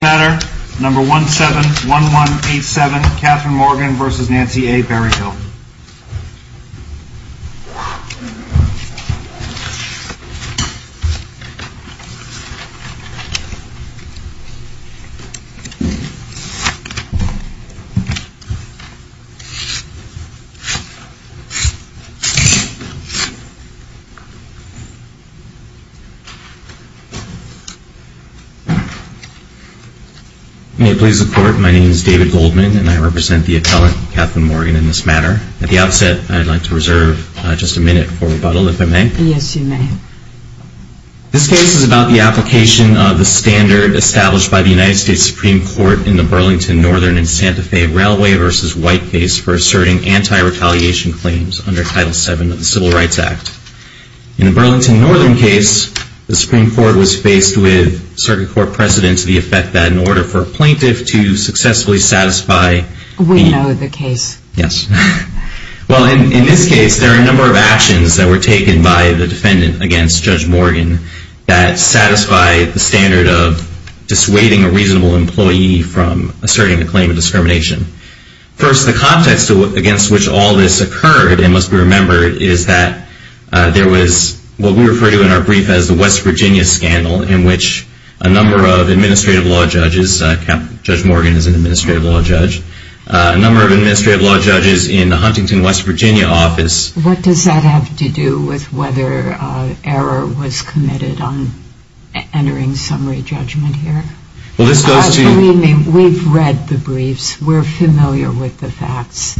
matter number 171187 Katherine Morgan versus Nancy A. Berryhill. May it please the Court, my name is David Goldman and I represent the appellant, Katherine Morgan, in this matter. At the outset, I'd like to reserve just a minute for rebuttal, if I may. Yes, you may. This case is about the application of the standard established by the United States Supreme Court in the Burlington Northern and Santa Fe Railway versus White case for asserting anti-retaliation claims under Title VII of the Civil Rights Act. In the Burlington Northern case, the Supreme Court was faced with circuit court precedence to the effect that in order for a plaintiff to successfully satisfy the… We know the case. Yes. Well, in this case, there are a number of actions that were taken by the defendant against Judge Morgan that satisfy the standard of dissuading a reasonable employee from asserting a claim of discrimination. First, the context against which all this occurred, it must be remembered, is that there was what we refer to in our brief as the West Virginia scandal in which a number of administrative law judges… Judge Morgan is an administrative law judge. A number of administrative law judges in the Huntington, West Virginia office… What does that have to do with whether error was committed on entering summary judgment here? Well, this goes to… We've read the briefs. We're familiar with the facts.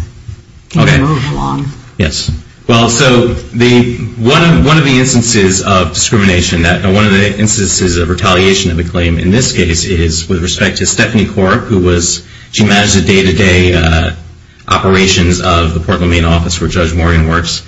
Okay. Can you move along? Yes. Well, so one of the instances of discrimination, one of the instances of retaliation of a claim in this case is with respect to Stephanie Corp, who was… She managed the day-to-day operations of the Portland Maine office where Judge Morgan works.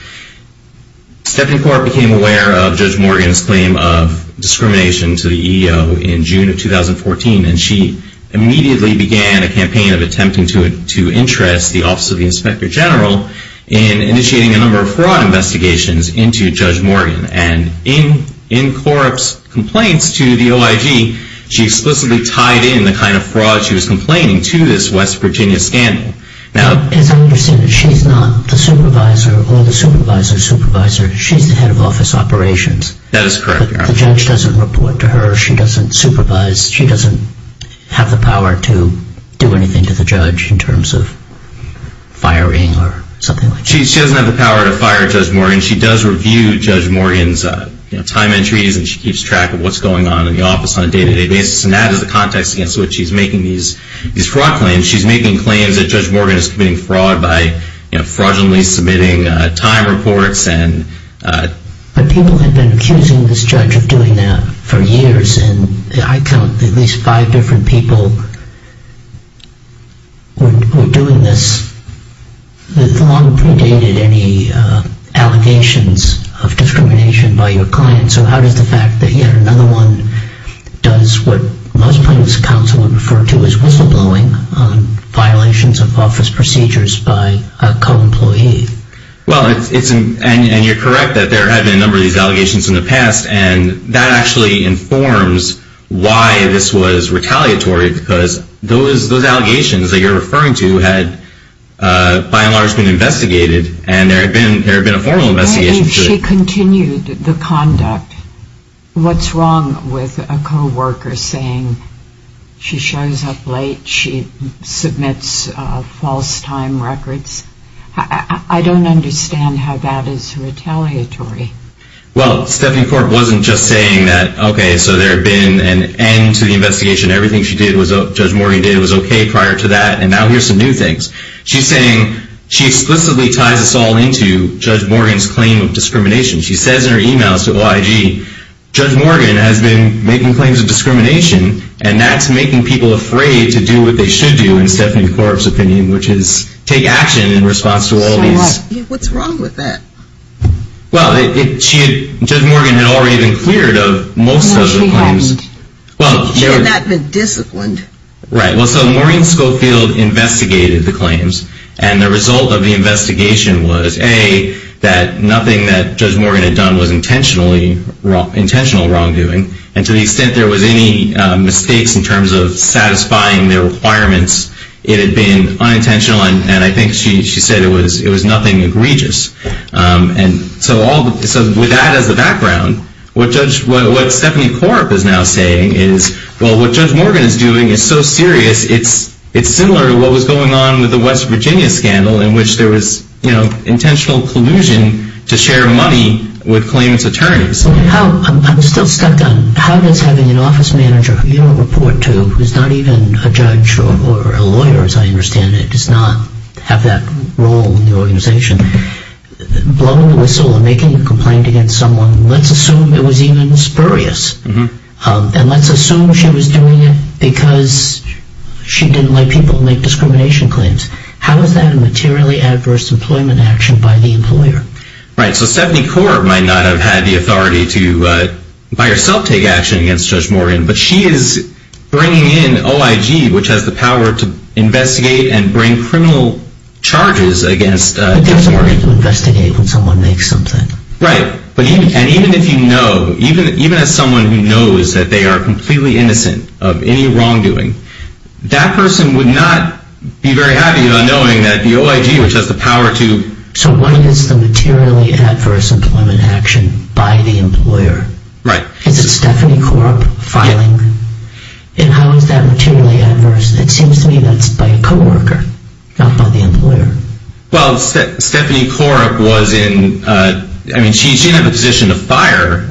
Stephanie Corp became aware of Judge Morgan's claim of discrimination to the EEO in June of 2014, and she immediately began a campaign of attempting to interest the Office of the Inspector General in initiating a number of fraud investigations into Judge Morgan. And in Corp's complaints to the OIG, she explicitly tied in the kind of fraud she was complaining to this West Virginia scandal. As I understand it, she's not the supervisor or the supervisor's supervisor. She's the head of office operations. That is correct, Your Honor. The judge doesn't report to her. She doesn't supervise. She doesn't have the power to do anything to the judge in terms of firing or something like that. She doesn't have the power to fire Judge Morgan. She does review Judge Morgan's time entries, and she keeps track of what's going on in the office on a day-to-day basis. And that is the context against which she's making these fraud claims. She's making claims that Judge Morgan is committing fraud by fraudulently submitting time reports. But people have been accusing this judge of doing that for years, and I count at least five different people who are doing this. The law predated any allegations of discrimination by your client, so how does the fact that yet another one does what most plaintiffs' counsel would refer to as whistleblowing on violations of office procedures by a co-employee? Well, and you're correct that there have been a number of these allegations in the past, and that actually informs why this was retaliatory, because those allegations that you're referring to had by and large been investigated, and there had been a formal investigation. If she continued the conduct, what's wrong with a co-worker saying she shows up late, she submits false time records? I don't understand how that is retaliatory. Well, Stephanie Korb wasn't just saying that, okay, so there had been an end to the investigation, everything Judge Morgan did was okay prior to that, and now here's some new things. She's saying she explicitly ties us all into Judge Morgan's claim of discrimination. She says in her emails to OIG, Judge Morgan has been making claims of discrimination, and that's making people afraid to do what they should do, in Stephanie Korb's opinion, which is take action in response to all these. What's wrong with that? Well, Judge Morgan had already been cleared of most of the claims. Well, she hadn't. She had not been disciplined. Right. Well, so Maureen Schofield investigated the claims, and the result of the investigation was, A, that nothing that Judge Morgan had done was intentional wrongdoing, and to the extent there was any mistakes in terms of satisfying the requirements, it had been unintentional, and I think she said it was nothing egregious. So with that as the background, what Stephanie Korb is now saying is, well, what Judge Morgan is doing is so serious, it's similar to what was going on with the West Virginia scandal in which there was intentional collusion to share money with claimants' attorneys. I'm still stuck on, how does having an office manager who you don't report to, who's not even a judge or a lawyer, as I understand it, does not have that role in the organization, blowing the whistle and making a complaint against someone, let's assume it was even spurious, and let's assume she was doing it because she didn't let people make discrimination claims. How is that a materially adverse employment action by the employer? Right, so Stephanie Korb might not have had the authority to, by herself, take action against Judge Morgan, but she is bringing in OIG, which has the power to investigate and bring criminal charges against Judge Morgan. But Judge Morgan can investigate when someone makes something. Right, and even if you know, even as someone who knows that they are completely innocent of any wrongdoing, that person would not be very happy about knowing that the OIG, which has the power to... So what is the materially adverse employment action by the employer? Right. Is it Stephanie Korb filing? Yeah. And how is that materially adverse? It seems to me that's by a co-worker, not by the employer. Well, Stephanie Korb was in, I mean, she didn't have a position to fire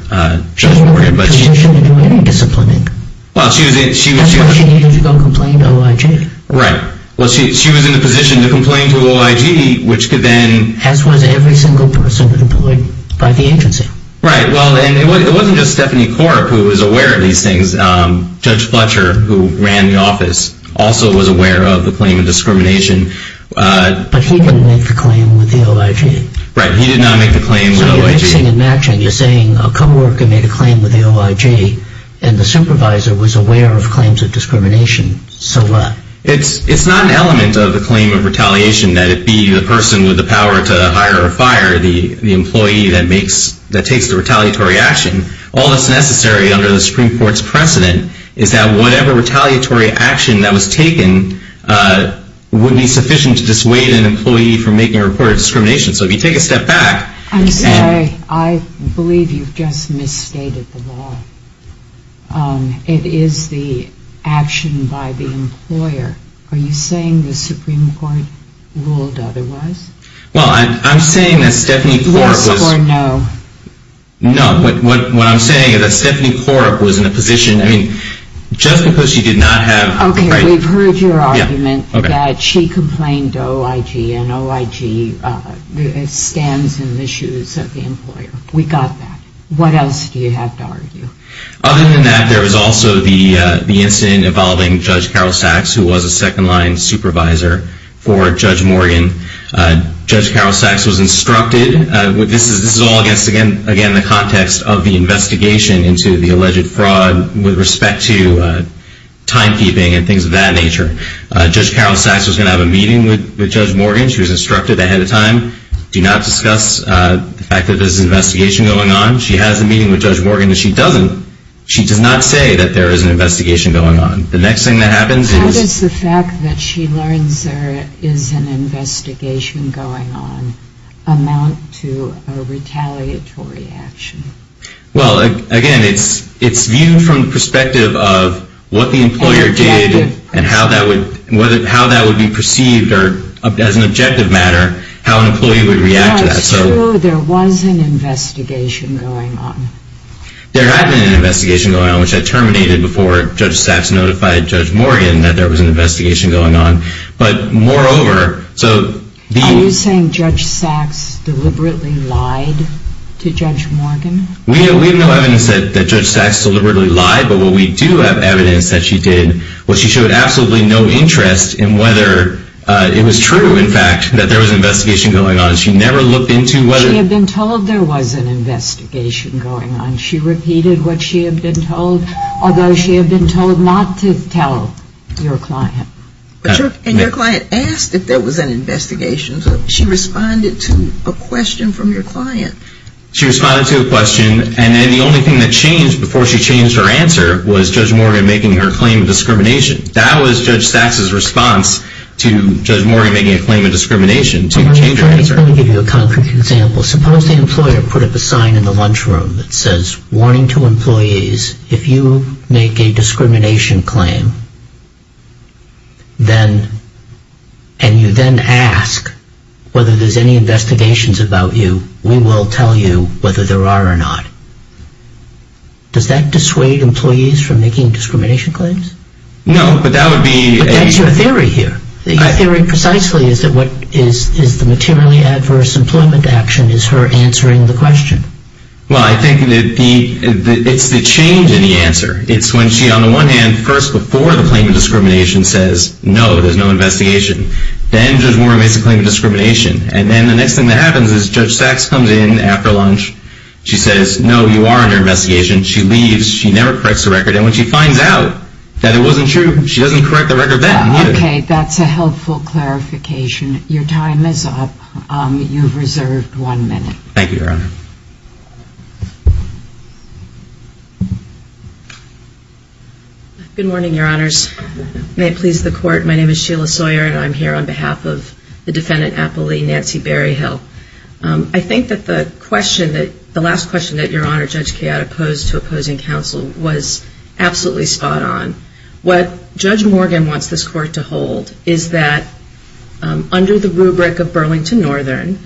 Judge Morgan, but she... She wasn't in a position to do any disciplining. Well, she was in... That's why she needed to go complain to OIG. Right. Well, she was in a position to complain to OIG, which could then... As was every single person employed by the agency. Right. Well, and it wasn't just Stephanie Korb who was aware of these things. Judge Fletcher, who ran the office, also was aware of the claim of discrimination. But he didn't make the claim with the OIG. Right. He did not make the claim with OIG. So you're mixing and matching. You're saying a co-worker made a claim with the OIG, and the supervisor was aware of claims of discrimination. So what? It's not an element of the claim of retaliation that it be the person with the power to hire or fire the employee that takes the retaliatory action. All that's necessary under the Supreme Court's precedent is that whatever retaliatory action that was taken would be sufficient to dissuade an employee from making a report of discrimination. So if you take a step back... I'm sorry. I believe you've just misstated the law. It is the action by the employer. Are you saying the Supreme Court ruled otherwise? Well, I'm saying that Stephanie Korb was... Yes or no? No. What I'm saying is that Stephanie Korb was in a position, I mean, just because she did not have... Okay. We've heard your argument that she complained to OIG, and OIG stands in the shoes of the employer. We got that. What else do you have to argue? Other than that, there was also the incident involving Judge Carol Sachs, who was a second-line supervisor for Judge Morgan. Judge Carol Sachs was instructed... This is all against, again, the context of the investigation into the alleged fraud with respect to timekeeping and things of that nature. Judge Carol Sachs was going to have a meeting with Judge Morgan. She was instructed ahead of time, do not discuss the fact that there's an investigation going on. She has a meeting with Judge Morgan. She does not say that there is an investigation going on. The next thing that happens is... How does the fact that she learns there is an investigation going on amount to a retaliatory action? Well, again, it's viewed from the perspective of what the employer did and how that would be perceived or, as an objective matter, how an employee would react to that. It's true there was an investigation going on. There had been an investigation going on, which had terminated before Judge Sachs notified Judge Morgan that there was an investigation going on, but moreover... Are you saying Judge Sachs deliberately lied to Judge Morgan? We have no evidence that Judge Sachs deliberately lied, but what we do have evidence that she did was she showed absolutely no interest in whether it was true, in fact, that there was an investigation going on. She never looked into whether... She had been told there was an investigation going on. She repeated what she had been told, although she had been told not to tell your client. And your client asked if there was an investigation. She responded to a question from your client. She responded to a question, and then the only thing that changed before she changed her answer was Judge Morgan making her claim of discrimination. That was Judge Sachs' response to Judge Morgan making a claim of discrimination, to change her answer. Let me give you a concrete example. Suppose the employer put up a sign in the lunchroom that says, warning to employees, if you make a discrimination claim, and you then ask whether there's any investigations about you, we will tell you whether there are or not. Does that dissuade employees from making discrimination claims? No, but that would be... But that's your theory here. Your theory precisely is that what is the materially adverse employment action is her answering the question. Well, I think it's the change in the answer. It's when she, on the one hand, first, before the claim of discrimination, says, no, there's no investigation. Then Judge Morgan makes a claim of discrimination. And then the next thing that happens is Judge Sachs comes in after lunch. She says, no, you are under investigation. She leaves. She never corrects the record. And when she finds out that it wasn't true, she doesn't correct the record then either. Okay. That's a helpful clarification. Your time is up. You've reserved one minute. Thank you, Your Honor. Good morning, Your Honors. May it please the Court, my name is Sheila Sawyer, and I'm here on behalf of the defendant appellee, Nancy Berryhill. I think that the question that, the last question that Your Honor, Judge Kayotta posed to opposing counsel was absolutely spot on. What Judge Morgan wants this Court to hold is that, under the rubric of Burlington Northern,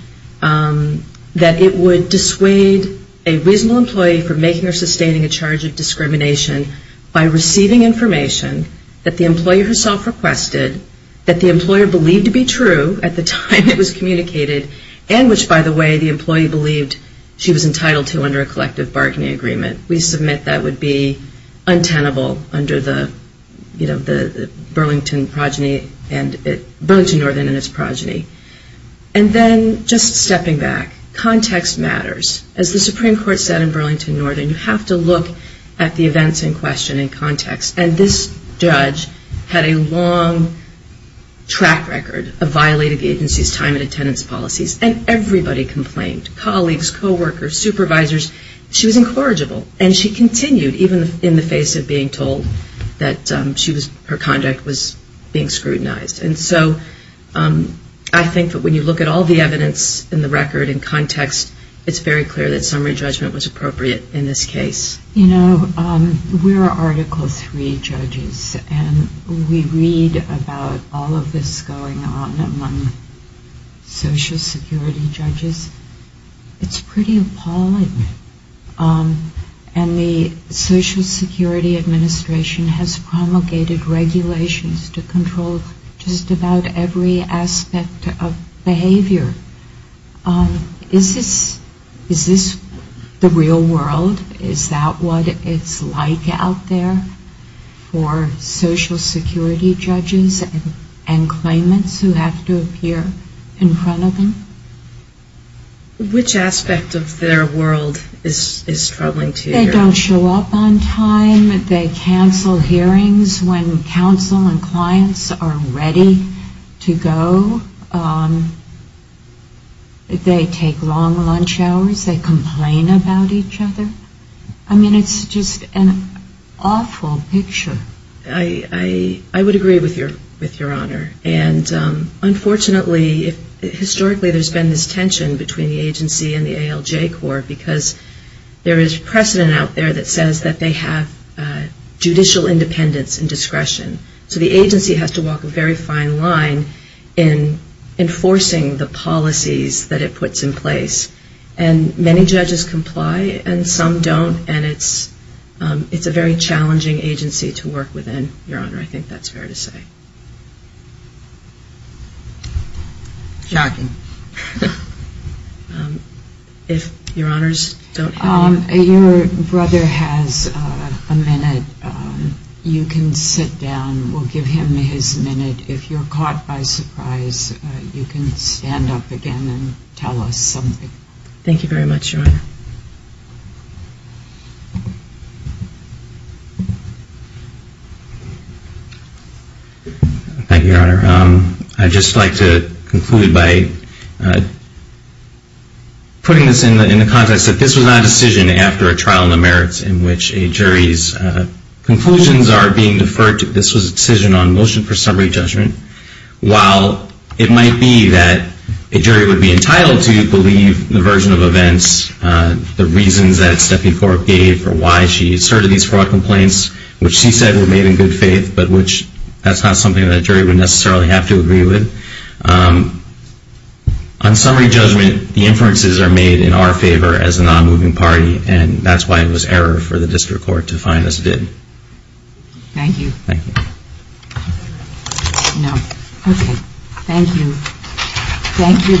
that it would dissuade a reasonable employee from making or sustaining a charge of discrimination by receiving information that the employee herself requested, that the employer believed to be true at the time it was communicated, and which, by the way, the employee believed she was entitled to under a collective bargaining agreement. We submit that would be untenable under the, you know, Burlington Northern and its progeny. And then, just stepping back, context matters. As the Supreme Court said in Burlington Northern, you have to look at the events in question in context. And this judge had a long track record of violating the agency's time and attendance policies, and everybody complained, colleagues, coworkers, supervisors, she was incorrigible, and she continued, even in the face of being told that her conduct was being scrutinized. And so, I think that when you look at all the evidence in the record and context, it's very clear that summary judgment was appropriate in this case. You know, we're Article III judges, and we read about all of this going on among Social Security judges. It's pretty appalling. And the Social Security Administration has promulgated regulations to control just about every aspect of behavior. Is this the real world? Is that what it's like out there for Social Security judges and claimants who have to appear in front of them? Which aspect of their world is troubling to you? They don't show up on time. They cancel hearings when counsel and clients are ready to go. They take long lunch hours. They complain about each other. I mean, it's just an awful picture. I would agree with Your Honor, and unfortunately historically there's been this tension between the agency and the ALJ Corps because there is precedent out there that says that they have judicial independence and discretion. So the agency has to walk a very fine line in enforcing the policies that it puts in place. And many judges comply and some don't, and it's a very challenging agency to work within, Your Honor. I think that's fair to say. Shocking. If Your Honors don't have any... Your brother has a minute. You can sit down. We'll give him his minute. If you're caught by surprise, you can stand up again and tell us something. Thank you very much, Your Honor. Thank you, Your Honor. I'd just like to conclude by putting this in the context that this was not a decision after a trial in the merits in which a jury's conclusions are being deferred. This was a decision on motion for summary judgment. While it might be that a jury would be entitled to believe the version of events, the reasons that Stephanie Fork gave for why she asserted these fraud complaints, which she said were made in good faith, but which that's not something that a jury would necessarily have to agree with. On summary judgment, the inferences are made in our favor as a non-moving party, and that's why it was error for the district court to find us dead. Thank you. No. Okay. Thank you. Thank you both.